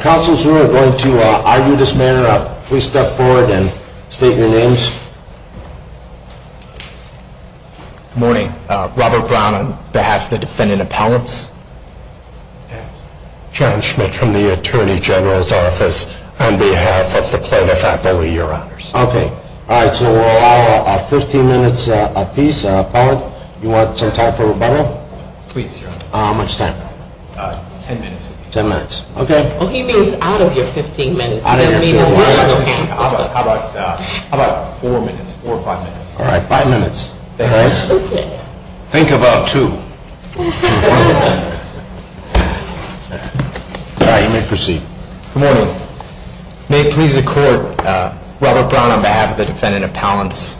Councils who are going to argue this matter, please step forward and state your names. Good morning. Robert Brown on behalf of the defendant appellants. John Schmidt from the Attorney General's office on behalf of the plaintiff, I believe, your honors. Okay. All right. So we'll allow 15 minutes a piece. Appellant, you want some time for rebuttal? Please, your honor. How much time? 10 minutes. 10 minutes. Okay. Well, he means out of your 15 minutes. Out of your 15 minutes. How about 4 minutes, 4 or 5 minutes? All right. 5 minutes. All right. Okay. Think about 2. All right. You may proceed. Good morning. May it please the court, Robert Brown on behalf of the defendant appellants.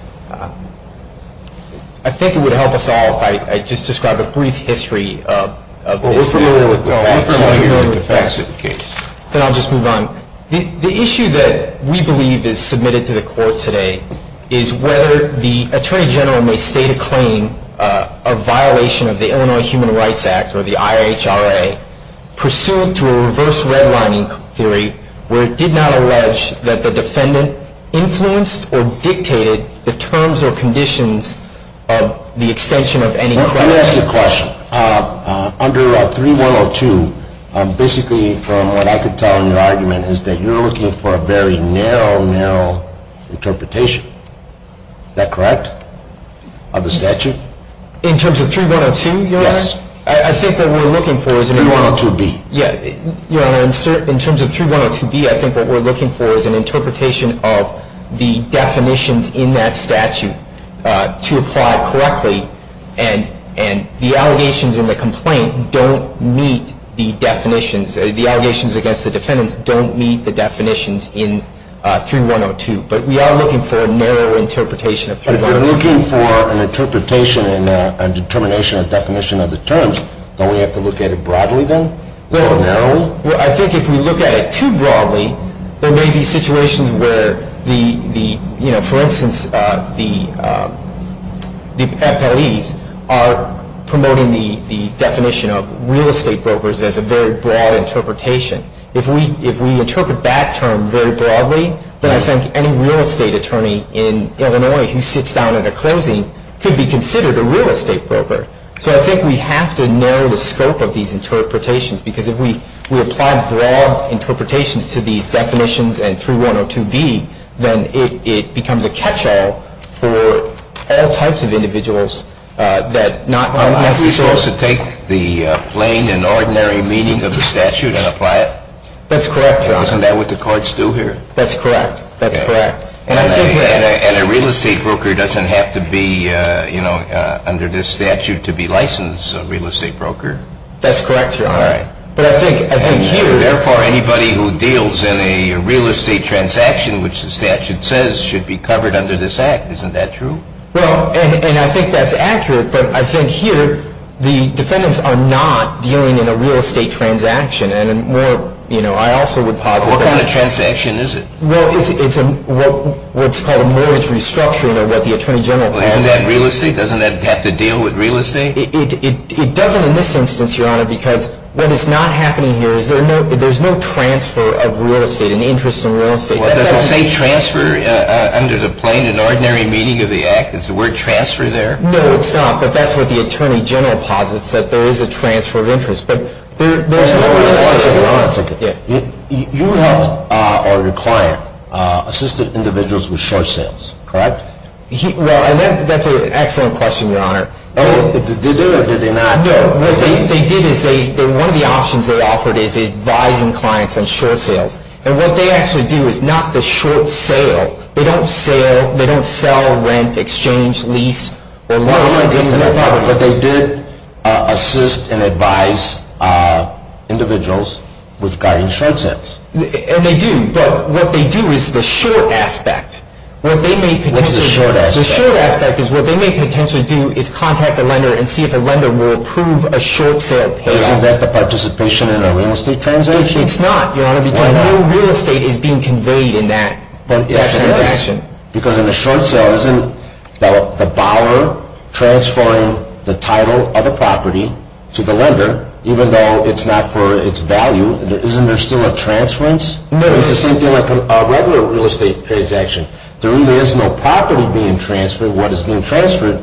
I think it would help us all if I just described a brief history of this bill. Well, we're familiar with the facts of the case. Then I'll just move on. The issue that we believe is submitted to the court today is whether the attorney general may state a claim of violation of the Illinois Human Rights Act or the IHRA pursuant to a reverse redlining theory where it did not allege that the defendant influenced or dictated the terms or conditions of the extension of any credit. Well, let me ask you a question. Under 3102, basically from what I could tell in your argument is that you're looking for a very narrow, narrow interpretation. Is that correct of the statute? In terms of 3102, your honor? Yes. I think what we're looking for is a 3102B. In terms of 3102B, I think what we're looking for is an interpretation of the definitions in that statute to apply correctly. And the allegations in the complaint don't meet the definitions. The allegations against the defendants don't meet the definitions in 3102. But we are looking for a narrow interpretation of 3102B. If we're looking for an interpretation and determination or definition of the terms, don't we have to look at it broadly then? Or narrowly? Well, I think if we look at it too broadly, there may be situations where the, you know, for instance, the FLEs are promoting the definition of real estate brokers as a very broad interpretation. If we interpret that term very broadly, then I think any real estate attorney in Illinois who sits down at a closing could be considered a real estate broker. So I think we have to narrow the scope of these interpretations because if we apply broad interpretations to these definitions and 3102B, then it becomes a catch-all for all types of individuals that not necessarily Would you also take the plain and ordinary meaning of the statute and apply it? That's correct, Your Honor. Isn't that what the courts do here? That's correct. That's correct. And a real estate broker doesn't have to be, you know, under this statute to be licensed a real estate broker? That's correct, Your Honor. All right. But I think here Therefore, anybody who deals in a real estate transaction, which the statute says should be covered under this act. Isn't that true? Well, and I think that's accurate, but I think here the defendants are not dealing in a real estate transaction. And more, you know, I also would posit that What kind of transaction is it? Well, it's what's called a mortgage restructuring or what the Attorney General calls it. Well, isn't that real estate? Doesn't that have to deal with real estate? It doesn't in this instance, Your Honor, because what is not happening here is there's no transfer of real estate, an interest in real estate. Well, does it say transfer under the plain and ordinary meaning of the act? Is the word transfer there? No, it's not, but that's what the Attorney General posits, that there is a transfer of interest, but there's no real estate. You helped or your client assisted individuals with short sales, correct? Well, and that's an excellent question, Your Honor. Did they do it or did they not? No, what they did is they, one of the options they offered is advising clients on short sales. And what they actually do is not the short sale. They don't sell, rent, exchange, lease, or lease into their property. But they did assist and advise individuals with guarding short sales. And they do, but what they do is the short aspect. What's the short aspect? The short aspect is what they may potentially do is contact a lender and see if a lender will approve a short sale payoff. Isn't that the participation in a real estate transaction? It's not, Your Honor, because no real estate is being conveyed in that transaction. Because in a short sale, isn't the borrower transferring the title of the property to the lender, even though it's not for its value? Isn't there still a transference? No. It's the same thing like a regular real estate transaction. There really is no property being transferred. Actually,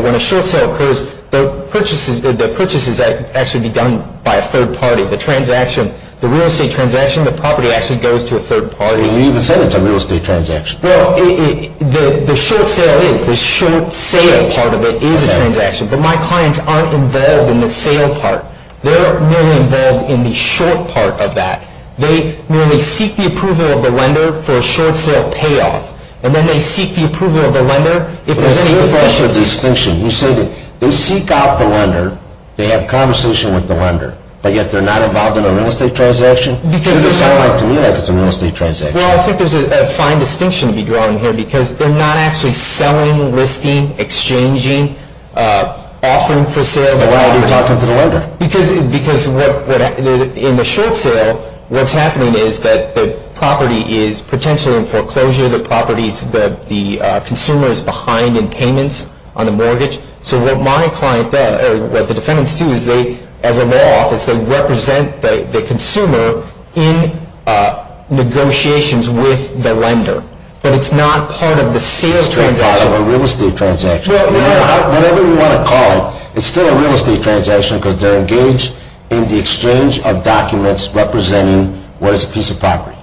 when a short sale occurs, the purchases actually be done by a third party. The real estate transaction, the property actually goes to a third party. But you even said it's a real estate transaction. Well, the short sale is. The short sale part of it is a transaction. But my clients aren't involved in the sale part. They're merely involved in the short part of that. They merely seek the approval of the lender for a short sale payoff. And then they seek the approval of the lender if there's any questions. That's the distinction. You say that they seek out the lender, they have a conversation with the lender, but yet they're not involved in a real estate transaction? It doesn't sound like to me like it's a real estate transaction. Well, I think there's a fine distinction to be drawn here because they're not actually selling, listing, exchanging, offering for sale. Then why are they talking to the lender? Because in the short sale, what's happening is that the property is potentially in foreclosure. The consumer is behind in payments on the mortgage. So what the defendants do is they, as a law office, they represent the consumer in negotiations with the lender. But it's not part of the sale transaction. It's not part of a real estate transaction. Whatever you want to call it, it's still a real estate transaction because they're engaged in the exchange of documents representing what is a piece of property.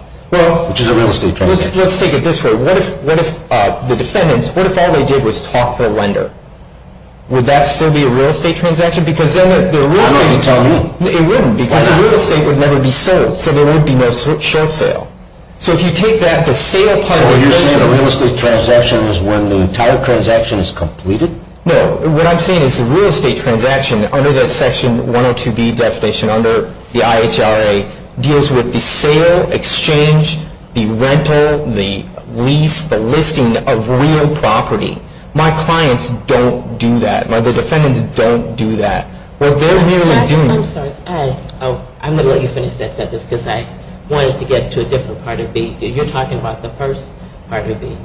Which is a real estate transaction. Let's take it this way. What if the defendants, what if all they did was talk to a lender? Would that still be a real estate transaction? I'm not going to tell you. It wouldn't because a real estate would never be sold. So there would be no short sale. So you're saying a real estate transaction is when the entire transaction is completed? No. What I'm saying is a real estate transaction, under that Section 102B definition, under the IHRA, deals with the sale, exchange, the rental, the lease, the listing of real property. My clients don't do that. My defendants don't do that. I'm sorry. I'm going to let you finish that sentence because I wanted to get to a different part of B. You're talking about the first part of B.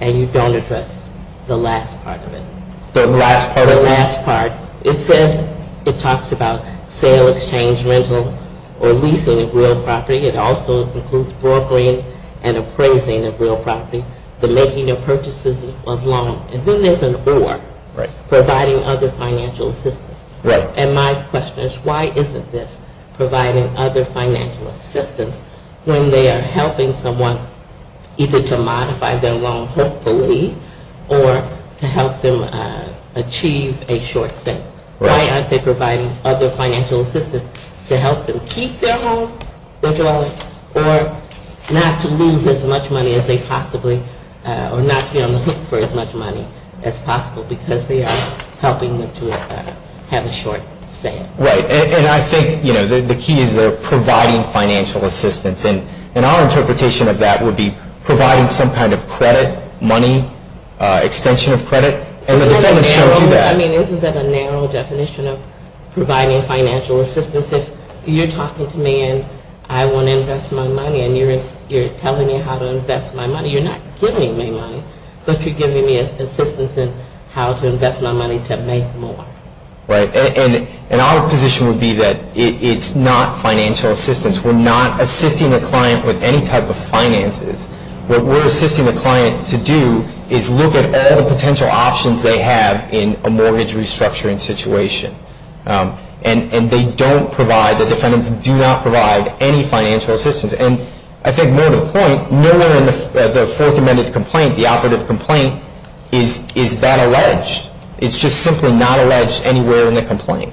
And you don't address the last part of it. The last part of B? The last part. It says, it talks about sale, exchange, rental, or leasing of real property. It also includes brokering and appraising of real property. The making of purchases of loan. And then there's an or. Right. Providing other financial assistance. Right. And my question is, why isn't this providing other financial assistance when they are helping someone either to modify their loan, hopefully, or to help them achieve a short sit? Right. Why aren't they providing other financial assistance to help them keep their home? Or not to lose as much money as they possibly, or not be on the hook for as much money as possible because they are helping them to have a short sit? Right. And I think, you know, the key is providing financial assistance. And our interpretation of that would be providing some kind of credit, money, extension of credit. And the defendants don't do that. I mean, isn't that a narrow definition of providing financial assistance? If you're talking to me and I want to invest my money and you're telling me how to invest my money, you're not giving me money, but you're giving me assistance in how to invest my money to make more. Right. And our position would be that it's not financial assistance. We're not assisting the client with any type of finances. What we're assisting the client to do is look at all the potential options they have in a mortgage restructuring situation. And they don't provide, the defendants do not provide any financial assistance. And I think more to the point, nowhere in the Fourth Amendment complaint, the operative complaint, is that alleged. It's just simply not alleged anywhere in the complaint.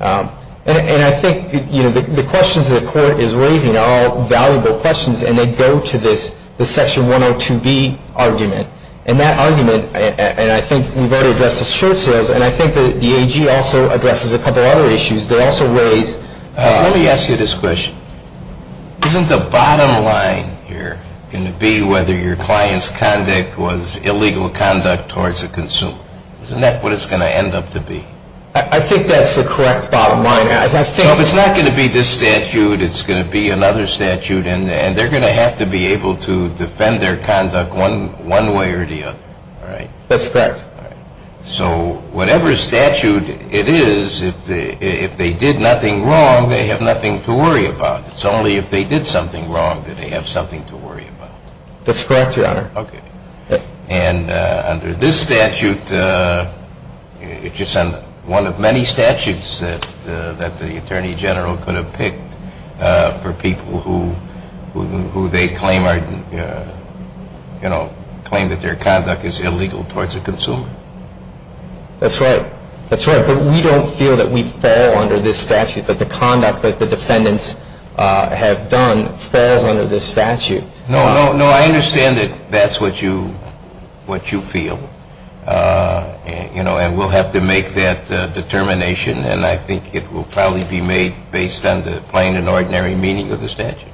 And I think, you know, the questions that the court is raising are all valuable questions and they go to this, the Section 102B argument. And that argument, and I think we've already addressed the short sales, and I think the AG also addresses a couple other issues. They also raise. Let me ask you this question. Isn't the bottom line here going to be whether your client's conduct was illegal conduct towards a consumer? Isn't that what it's going to end up to be? I think that's the correct bottom line. So it's not going to be this statute. It's going to be another statute. And they're going to have to be able to defend their conduct one way or the other, right? That's correct. So whatever statute it is, if they did nothing wrong, they have nothing to worry about. It's only if they did something wrong that they have something to worry about. That's correct, Your Honor. Okay. And under this statute, it's just one of many statutes that the Attorney General could have picked for people who they claim are, you know, claim that their conduct is illegal towards a consumer. That's right. That's right. But we don't feel that we fall under this statute, that the conduct that the defendants have done falls under this statute. No, no, no. I understand that that's what you feel. You know, and we'll have to make that determination, and I think it will probably be made based on the plain and ordinary meaning of the statute.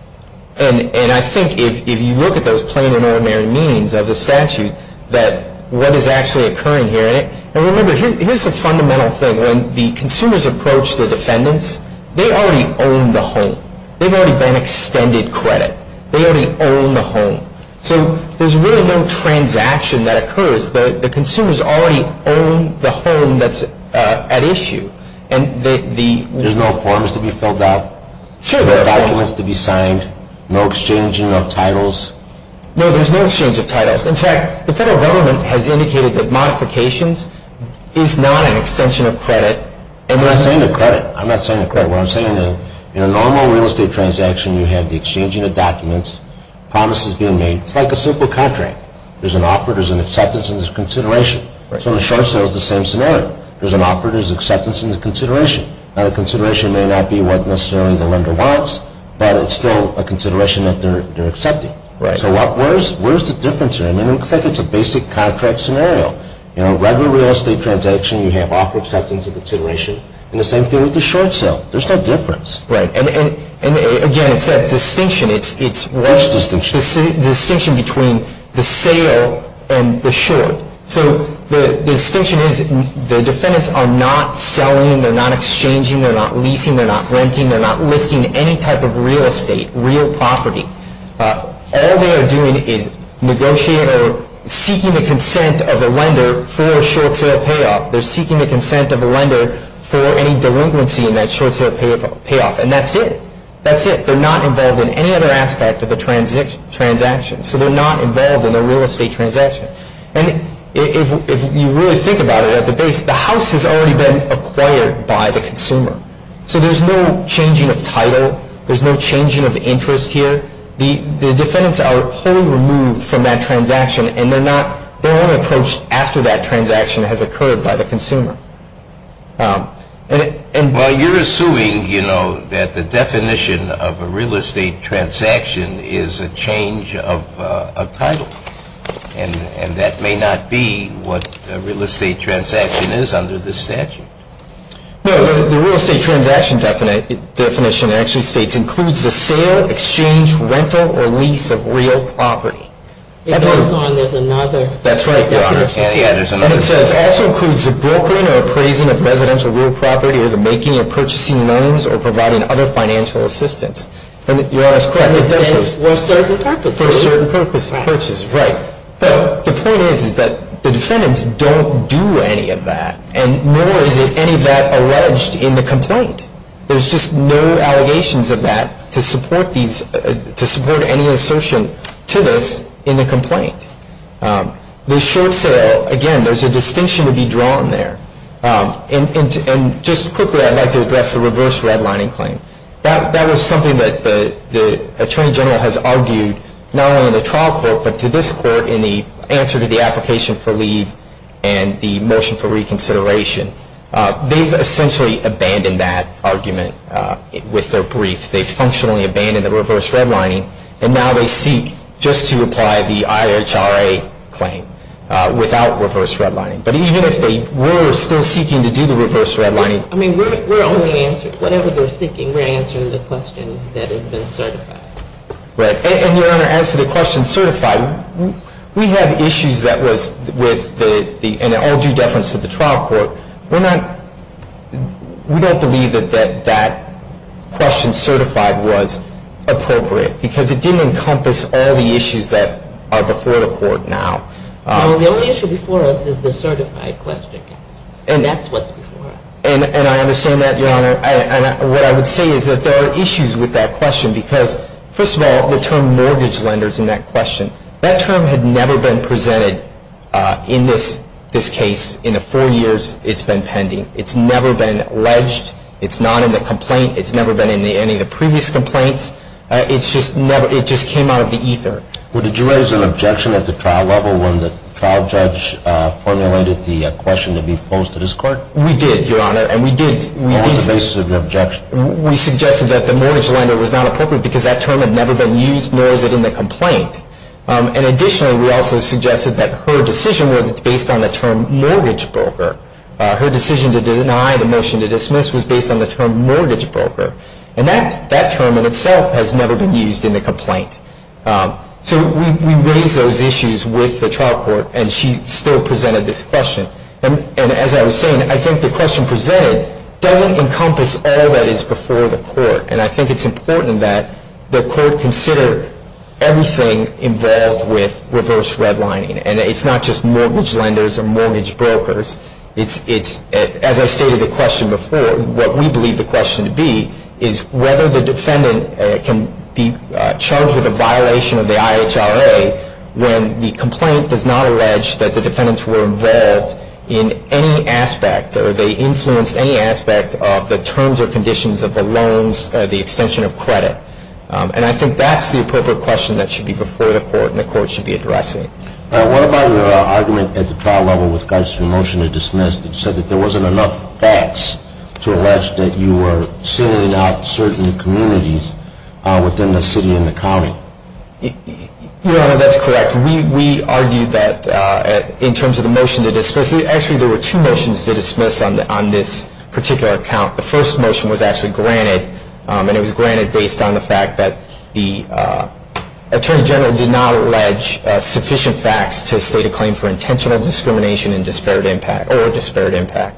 And I think if you look at those plain and ordinary meanings of the statute, that what is actually occurring here, and remember, here's the fundamental thing. When the consumers approach the defendants, they already own the home. They've already been extended credit. They already own the home. So there's really no transaction that occurs. The consumers already own the home that's at issue. There's no forms to be filled out, no documents to be signed, no exchanging of titles. No, there's no exchange of titles. In fact, the federal government has indicated that modifications is not an extension of credit. I'm not saying a credit. I'm not saying a credit. In a normal real estate transaction, you have the exchanging of documents, promises being made. It's like a simple contract. There's an offer, there's an acceptance, and there's a consideration. So the short sale is the same scenario. There's an offer, there's an acceptance, and there's a consideration. Now, the consideration may not be what necessarily the lender wants, but it's still a consideration that they're accepting. So where's the difference here? I mean, it looks like it's a basic contract scenario. In a regular real estate transaction, you have offer, acceptance, and consideration. And the same thing with the short sale. There's no difference. Right. And, again, it's that distinction. What's the distinction? The distinction between the sale and the short. So the distinction is the defendants are not selling, they're not exchanging, they're not leasing, they're not renting, they're not listing any type of real estate, real property. All they are doing is negotiating or seeking the consent of the lender for a short sale payoff. They're seeking the consent of the lender for any delinquency in that short sale payoff. And that's it. That's it. They're not involved in any other aspect of the transaction. So they're not involved in a real estate transaction. And if you really think about it at the base, the house has already been acquired by the consumer. So there's no changing of title. There's no changing of interest here. The defendants are wholly removed from that transaction, and their own approach after that transaction has occurred by the consumer. Well, you're assuming, you know, that the definition of a real estate transaction is a change of title, and that may not be what a real estate transaction is under this statute. No, the real estate transaction definition actually states includes the sale, exchange, rental, or lease of real property. It goes on. There's another. That's right, Your Honor. Yeah, there's another. And it says, also includes the brokering or appraising of residential real property or the making or purchasing loans or providing other financial assistance. And Your Honor is correct. And it does for certain purposes. For certain purposes. Right. Right. But the point is, is that the defendants don't do any of that, and nor is any of that alleged in the complaint. There's just no allegations of that to support any assertion to this in the complaint. The short sale, again, there's a distinction to be drawn there. And just quickly, I'd like to address the reverse redlining claim. That was something that the Attorney General has argued not only in the trial court, but to this court in the answer to the application for leave and the motion for reconsideration. They've essentially abandoned that argument with their brief. They've functionally abandoned the reverse redlining. And now they seek just to apply the IHRA claim without reverse redlining. But even if they were still seeking to do the reverse redlining. I mean, we're only answering, whatever they're seeking, we're answering the question that has been certified. Right. And, Your Honor, as to the question certified, we have issues that was with the, in all due deference to the trial court, we don't believe that that question certified was appropriate. Because it didn't encompass all the issues that are before the court now. Well, the only issue before us is the certified question. And that's what's before us. And I understand that, Your Honor. And what I would say is that there are issues with that question. Because, first of all, the term mortgage lenders in that question, that term had never been presented in this case in the four years it's been pending. It's never been alleged. It's not in the complaint. It's never been in any of the previous complaints. It just came out of the ether. Well, did you raise an objection at the trial level when the trial judge formulated the question to be posed to this court? We did, Your Honor. And we did. On the basis of your objection. We suggested that the mortgage lender was not appropriate because that term had never been used, nor is it in the complaint. And additionally, we also suggested that her decision was based on the term mortgage broker. Her decision to deny the motion to dismiss was based on the term mortgage broker. And that term in itself has never been used in the complaint. So we raised those issues with the trial court. And she still presented this question. And as I was saying, I think the question presented doesn't encompass all that is before the court. And I think it's important that the court consider everything involved with reverse redlining. And it's not just mortgage lenders or mortgage brokers. As I stated the question before, what we believe the question to be is whether the defendant can be charged with a violation of the IHRA when the complaint does not allege that the defendants were involved in any aspect or they influenced any aspect of the terms or conditions of the loans, the extension of credit. And I think that's the appropriate question that should be before the court and the court should be addressing. What about your argument at the trial level with regards to the motion to dismiss that said that there wasn't enough facts to allege that you were sealing out certain communities within the city and the county? Your Honor, that's correct. We argued that in terms of the motion to dismiss, actually there were two motions to dismiss on this particular account. The first motion was actually granted. And it was granted based on the fact that the attorney general did not allege sufficient facts to state a claim for intentional discrimination and disparate impact or disparate impact.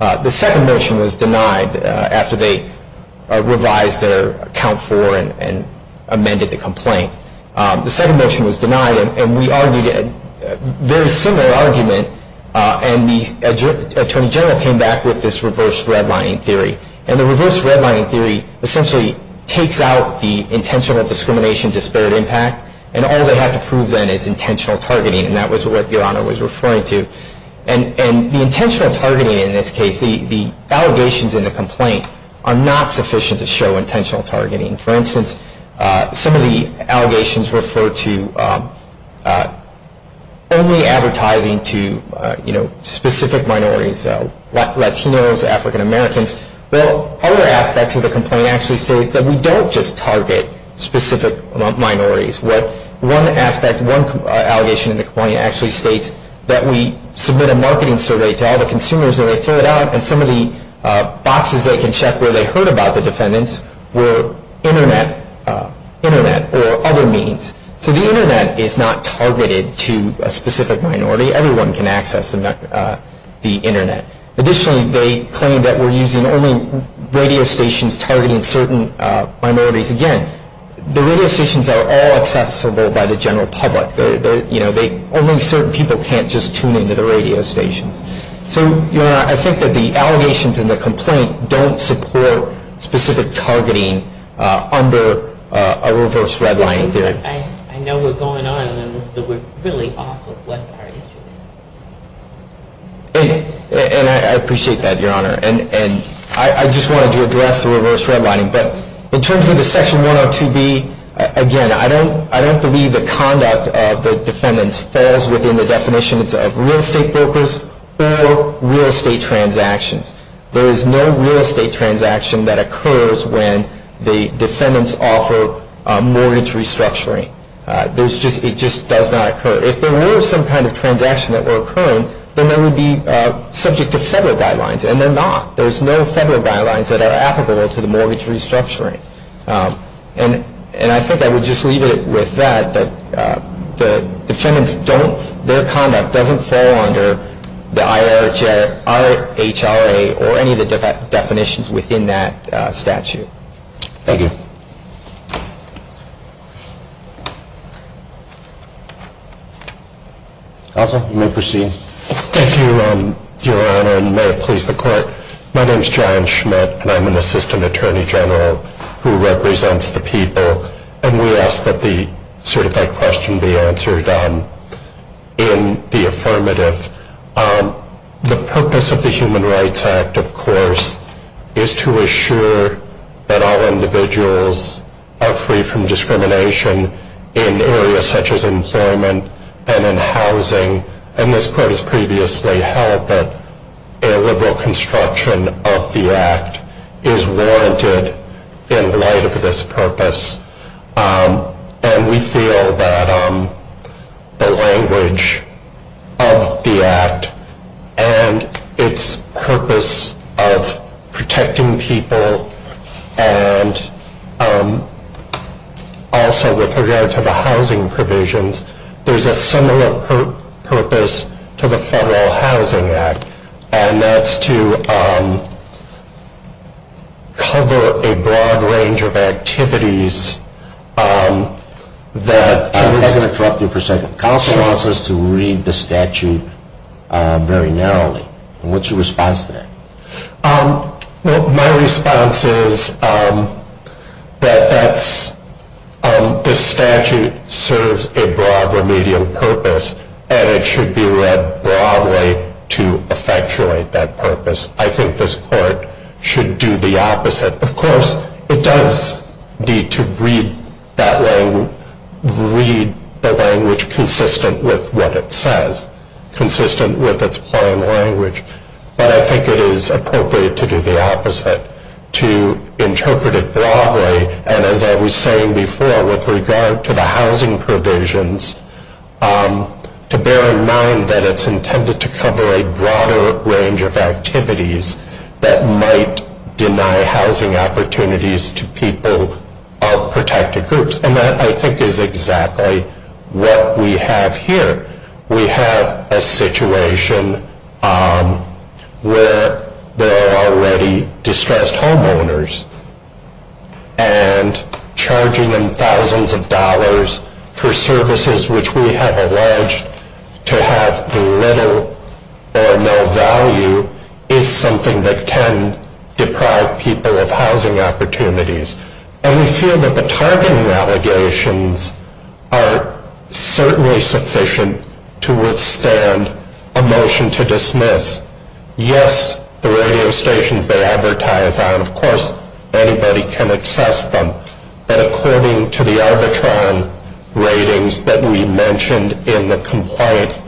The second motion was denied after they revised their account for and amended the complaint. The second motion was denied, and we argued a very similar argument. And the attorney general came back with this reverse redlining theory. And the reverse redlining theory essentially takes out the intentional discrimination, disparate impact, and all they have to prove then is intentional targeting. And that was what Your Honor was referring to. And the intentional targeting in this case, the allegations in the complaint, are not sufficient to show intentional targeting. For instance, some of the allegations refer to only advertising to specific minorities, Latinos, African Americans. Well, other aspects of the complaint actually say that we don't just target specific minorities. One aspect, one allegation in the complaint actually states that we submit a marketing survey to all the consumers and they fill it out and some of the boxes they can check where they heard about the defendants were Internet or other means. So the Internet is not targeted to a specific minority. Everyone can access the Internet. Additionally, they claim that we're using only radio stations targeting certain minorities. Again, the radio stations are all accessible by the general public. Only certain people can't just tune into the radio stations. So Your Honor, I think that the allegations in the complaint don't support specific targeting under a reverse redlining theory. I know we're going on in this, but we're really off of what our issue is. And I appreciate that, Your Honor. And I just wanted to address the reverse redlining. But in terms of the Section 102B, again, I don't believe the conduct of the defendants falls within the definitions of real estate brokers or real estate transactions. There is no real estate transaction that occurs when the defendants offer mortgage restructuring. It just does not occur. If there were some kind of transaction that were occurring, then they would be subject to federal guidelines, and they're not. There's no federal guidelines that are applicable to the mortgage restructuring. And I think I would just leave it with that, that the defendants' conduct doesn't fall under the IRHRA or any of the definitions within that statute. Thank you. Counsel, you may proceed. Thank you, Your Honor, and may it please the Court. My name is John Schmidt, and I'm an assistant attorney general who represents the people. And we ask that the certified question be answered in the affirmative. The purpose of the Human Rights Act, of course, is to assure that all individuals are free from discrimination in areas such as employment and in housing. And this Court has previously held that illiberal construction of the Act is warranted in light of this purpose. And we feel that the language of the Act and its purpose of protecting people and also with regard to the housing provisions, there's a similar purpose to the Federal Housing Act, and that's to cover a broad range of activities that… I'm just going to interrupt you for a second. Counsel wants us to read the statute very narrowly. What's your response to that? Well, my response is that this statute serves a broad remedial purpose, and it should be read broadly to effectuate that purpose. I think this Court should do the opposite. Of course, it does need to read the language consistent with what it says, consistent with its plain language. But I think it is appropriate to do the opposite, to interpret it broadly. And as I was saying before, with regard to the housing provisions, to bear in mind that it's intended to cover a broader range of activities that might deny housing opportunities to people of protected groups. And that, I think, is exactly what we have here. We have a situation where there are already distressed homeowners, and charging them thousands of dollars for services which we have alleged to have little or no value is something that can deprive people of housing opportunities. And we feel that the targeting allegations are certainly sufficient to withstand a motion to dismiss. Yes, the radio stations they advertise on, of course, anybody can access them. But according to the Arbitron ratings that we mentioned in the complaint,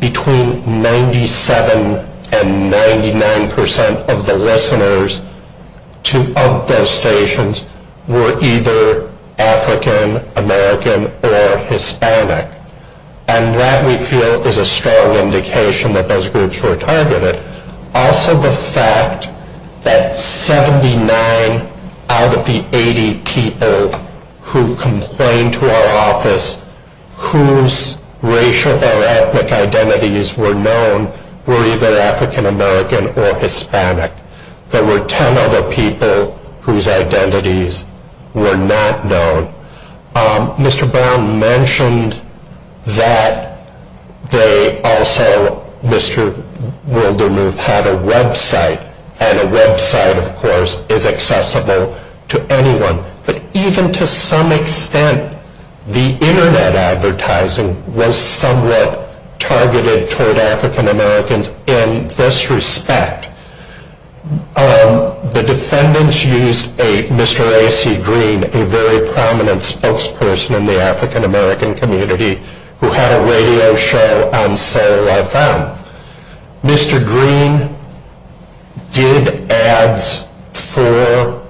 between 97% and 99% of the listeners of those stations were either African American or Hispanic. And that, we feel, is a strong indication that those groups were targeted. Also the fact that 79 out of the 80 people who complained to our office, whose racial or ethnic identities were known, were either African American or Hispanic. There were 10 other people whose identities were not known. Mr. Brown mentioned that they also, Mr. Wildermuth, had a website. And a website, of course, is accessible to anyone. But even to some extent, the internet advertising was somewhat targeted toward African Americans in this respect. The defendants used Mr. A.C. Green, a very prominent spokesperson in the African American community, who had a radio show on Soul FM. Mr. Green did ads for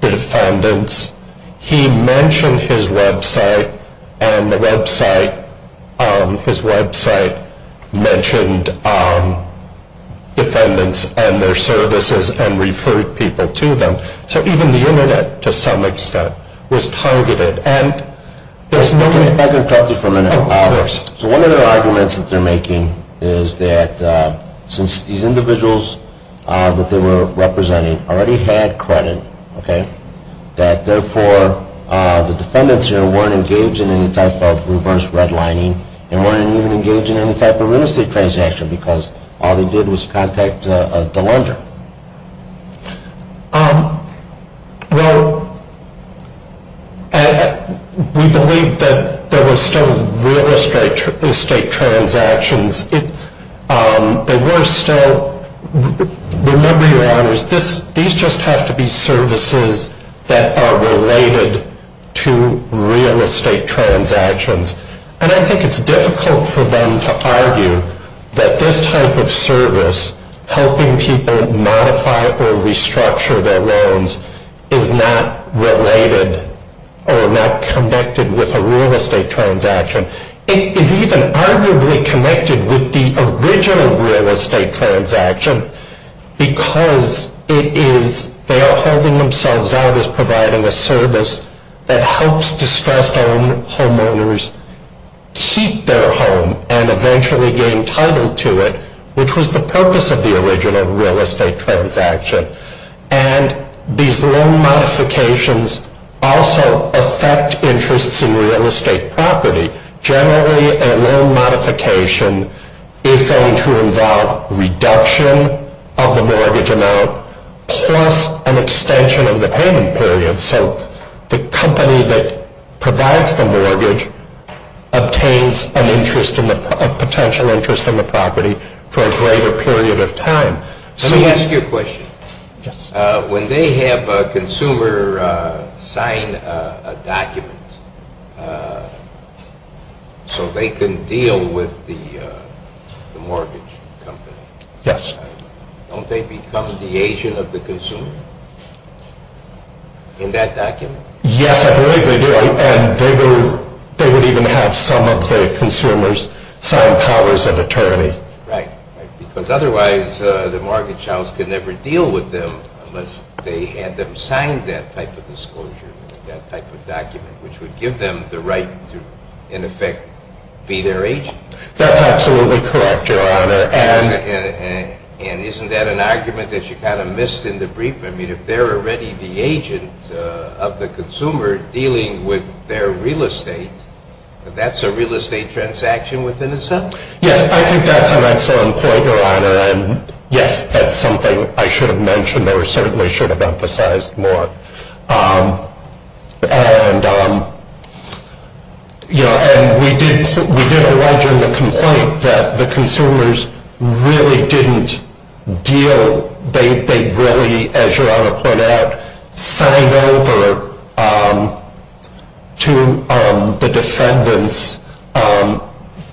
the defendants. He mentioned his website, and his website mentioned defendants and their services and referred people to them. So even the internet, to some extent, was targeted. And there's no way... If I could interrupt you for a minute. Of course. So one of the arguments that they're making is that since these individuals that they were representing already had credit, that therefore the defendants weren't engaged in any type of reverse redlining and weren't even engaged in any type of real estate transaction, because all they did was contact the lender. Well, we believe that there were still real estate transactions. There were still... that are related to real estate transactions. And I think it's difficult for them to argue that this type of service, helping people modify or restructure their loans, is not related or not connected with a real estate transaction. It is even arguably connected with the original real estate transaction, because it is... they are holding themselves out as providing a service that helps distressed homeowners keep their home and eventually gain title to it, which was the purpose of the original real estate transaction. And these loan modifications also affect interests in real estate property. Generally, a loan modification is going to involve reduction of the mortgage amount plus an extension of the payment period. So the company that provides the mortgage obtains a potential interest in the property for a greater period of time. Let me ask you a question. When they have a consumer sign a document so they can deal with the mortgage company, don't they become the agent of the consumer in that document? Yes, I believe they do. And they would even have some of the consumers sign powers of attorney. Right, because otherwise the mortgage house could never deal with them unless they had them sign that type of disclosure, that type of document, which would give them the right to, in effect, be their agent. That's absolutely correct, Your Honor. And isn't that an argument that you kind of missed in the brief? I mean, if they're already the agent of the consumer dealing with their real estate, that's a real estate transaction within itself? Yes, I think that's an excellent point, Your Honor. And, yes, that's something I should have mentioned or certainly should have emphasized more. And we did allege in the complaint that the consumers really didn't deal. They really, as Your Honor pointed out, signed over to the defendants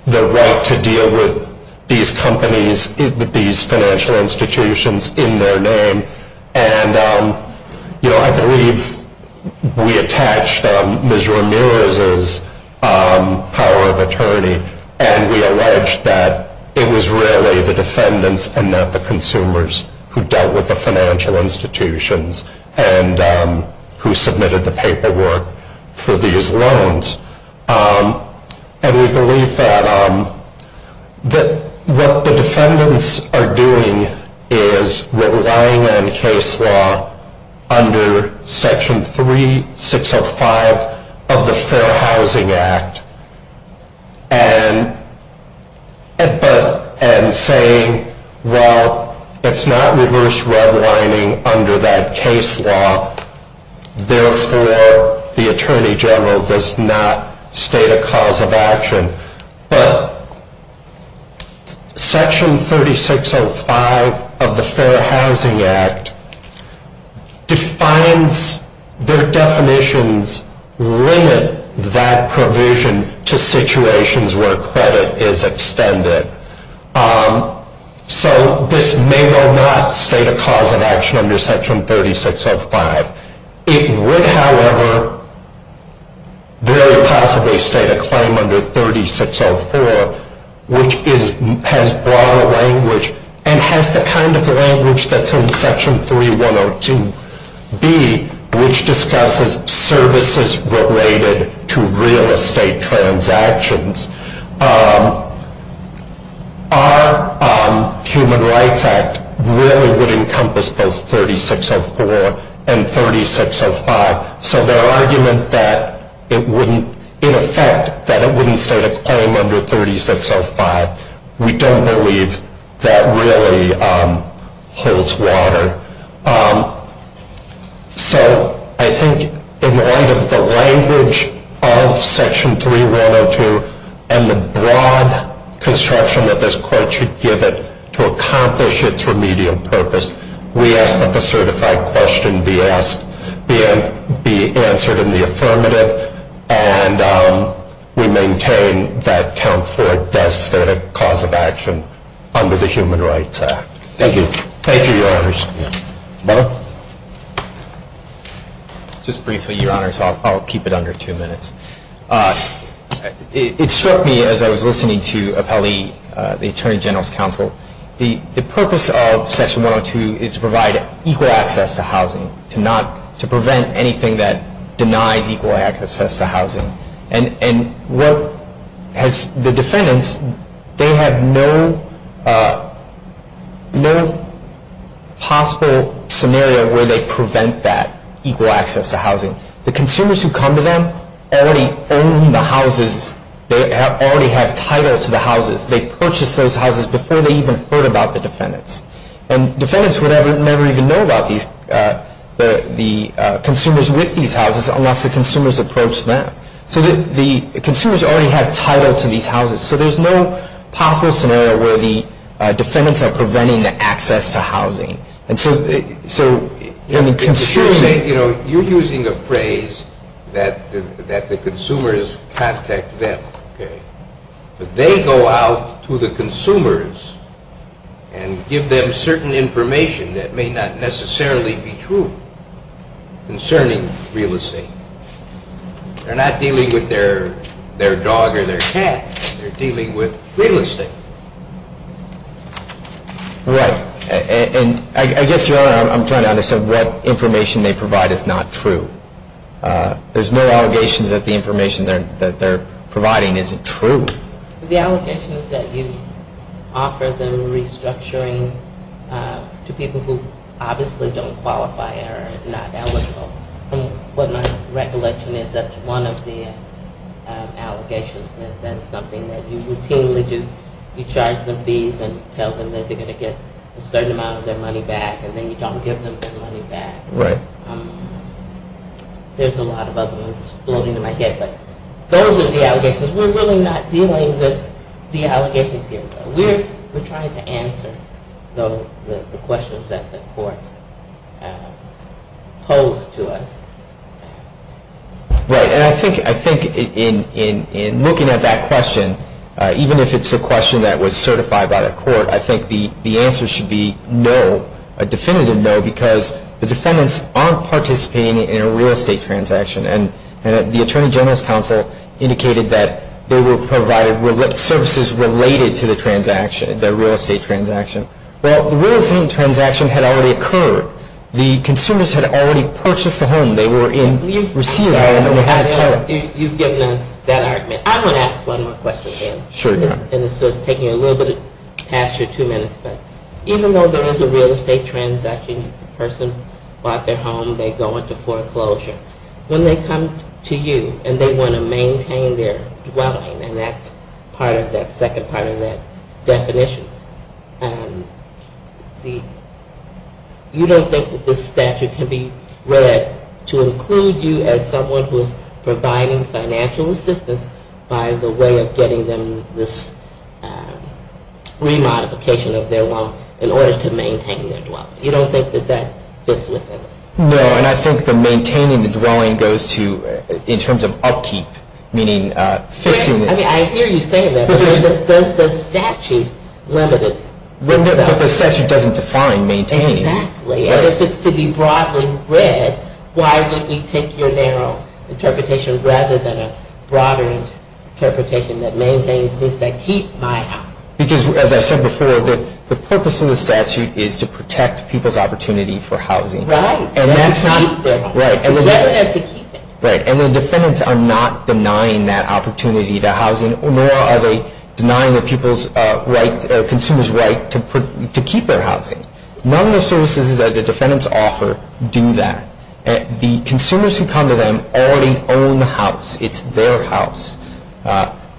the right to deal with these companies, these financial institutions in their name. And, you know, I believe we attached Ms. Ramirez's power of attorney and we alleged that it was really the defendants and not the consumers who dealt with the financial institutions and who submitted the paperwork for these loans. And we believe that what the defendants are doing is relying on case law under Section 3605 of the Fair Housing Act and saying, well, it's not reverse redlining under that case law. Therefore, the attorney general does not state a cause of action. But Section 3605 of the Fair Housing Act defines their definitions, limit that provision to situations where credit is extended. So this may or may not state a cause of action under Section 3605. It would, however, very possibly state a claim under 3604, which has broader language and has the kind of language that's in Section 3102B, which discusses services related to real estate transactions. Our Human Rights Act really would encompass both 3604 and 3605. So their argument that it wouldn't, in effect, that it wouldn't state a claim under 3605, we don't believe that really holds water. So I think in light of the language of Section 3102 and the broad construction that this Court should give it to accomplish its remedial purpose, we ask that the certified question be answered in the affirmative. And we maintain that Count Ford does state a cause of action under the Human Rights Act. Thank you. Thank you, Your Honors. Bob? Just briefly, Your Honors. I'll keep it under two minutes. It struck me as I was listening to Appellee, the Attorney General's counsel, the purpose of Section 102 is to provide equal access to housing, to prevent anything that denies equal access to housing. And the defendants, they have no possible scenario where they prevent that equal access to housing. The consumers who come to them already own the houses. They already have title to the houses. They purchased those houses before they even heard about the defendants. And defendants would never even know about the consumers with these houses unless the consumers approached them. So the consumers already have title to these houses. So there's no possible scenario where the defendants are preventing the access to housing. And so, I mean, consumers... You're using a phrase that the consumers contact them, okay? But they go out to the consumers and give them certain information that may not necessarily be true concerning real estate. They're not dealing with their dog or their cat. They're dealing with real estate. Right. And I guess, Your Honor, I'm trying to understand what information they provide is not true. There's no allegations that the information that they're providing isn't true. The allegation is that you offer them restructuring to people who obviously don't qualify or are not eligible. From what my recollection is, that's one of the allegations. That is something that you routinely do. You charge them fees and tell them that they're going to get a certain amount of their money back and then you don't give them their money back. Right. There's a lot of other ones exploding in my head, but those are the allegations. We're really not dealing with the allegations here. We're trying to answer, though, the questions that the court posed to us. Right. And I think in looking at that question, even if it's a question that was certified by the court, I think the answer should be no, a definitive no, because the defendants aren't participating in a real estate transaction. And the Attorney General's counsel indicated that they were provided services related to the transaction, the real estate transaction. Well, the real estate transaction had already occurred. The consumers had already purchased the home. They were in receipt of the home. You've given us that argument. I want to ask one more question. Sure, Your Honor. And this is taking a little bit past your two minutes, but even though there is a real estate transaction, the person bought their home. They go into foreclosure. When they come to you and they want to maintain their dwelling, and that's part of that second part of that definition, you don't think that this statute can be read to include you as someone who is providing financial assistance by the way of getting them this remodification of their home in order to maintain their dwelling. You don't think that that fits within it? No, and I think the maintaining the dwelling goes to, in terms of upkeep, meaning fixing it. I hear you saying that, but does the statute limit itself? No, but the statute doesn't define maintaining. Exactly. And if it's to be broadly read, why would we take your narrow interpretation rather than a broader interpretation that maintains this to keep my house? Because, as I said before, the purpose of the statute is to protect people's opportunity for housing. Right. And that's not. To keep their home. Right. To get them to keep it. Right, and the defendants are not denying that opportunity to housing, nor are they denying the consumer's right to keep their housing. None of the services that the defendants offer do that. The consumers who come to them already own the house. It's their house.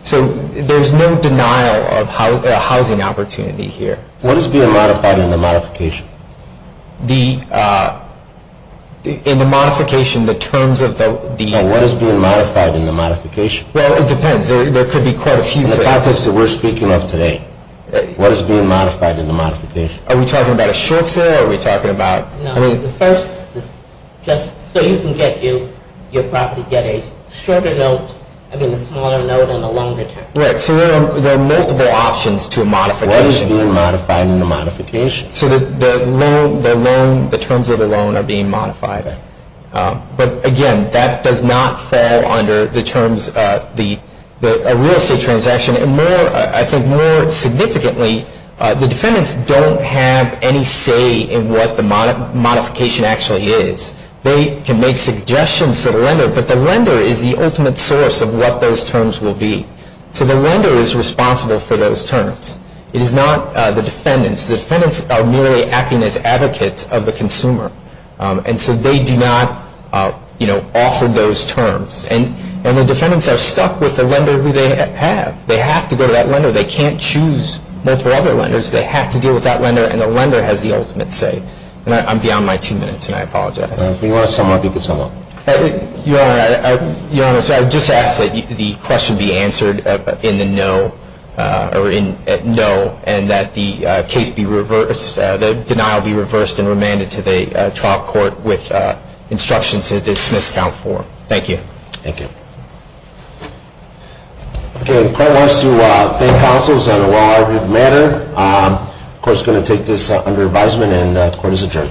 So there's no denial of housing opportunity here. What is being modified in the modification? In the modification, the terms of the... What is being modified in the modification? Well, it depends. There could be quite a few things. The topics that we're speaking of today. What is being modified in the modification? Are we talking about a short sale? Are we talking about... No, the first... Just so you can get you... Your property... Get a shorter note... I mean a smaller note and a longer term. Right, so there are multiple options to a modification. What is being modified in the modification? So the loan... The loan... The terms of the loan are being modified. But, again, that does not fall under the terms... The real estate transaction. And more... I think more significantly... The defendants don't have any say in what the modification actually is. They can make suggestions to the lender. But the lender is the ultimate source of what those terms will be. So the lender is responsible for those terms. It is not the defendants. The defendants are merely acting as advocates of the consumer. And so they do not offer those terms. And the defendants are stuck with the lender who they have. They have to go to that lender. They can't choose multiple other lenders. They have to deal with that lender. And the lender has the ultimate say. And I'm beyond my two minutes, and I apologize. If you want to sum up, you can sum up. Your Honor, I would just ask that the question be answered in the no... Or in no... And that the case be reversed... The denial be reversed and remanded to the trial court with instructions to dismiss Count 4. Thank you. Thank you. Okay. The court wants to thank counsels on a well-argued matter. The court is going to take this under advisement, and the court is adjourned.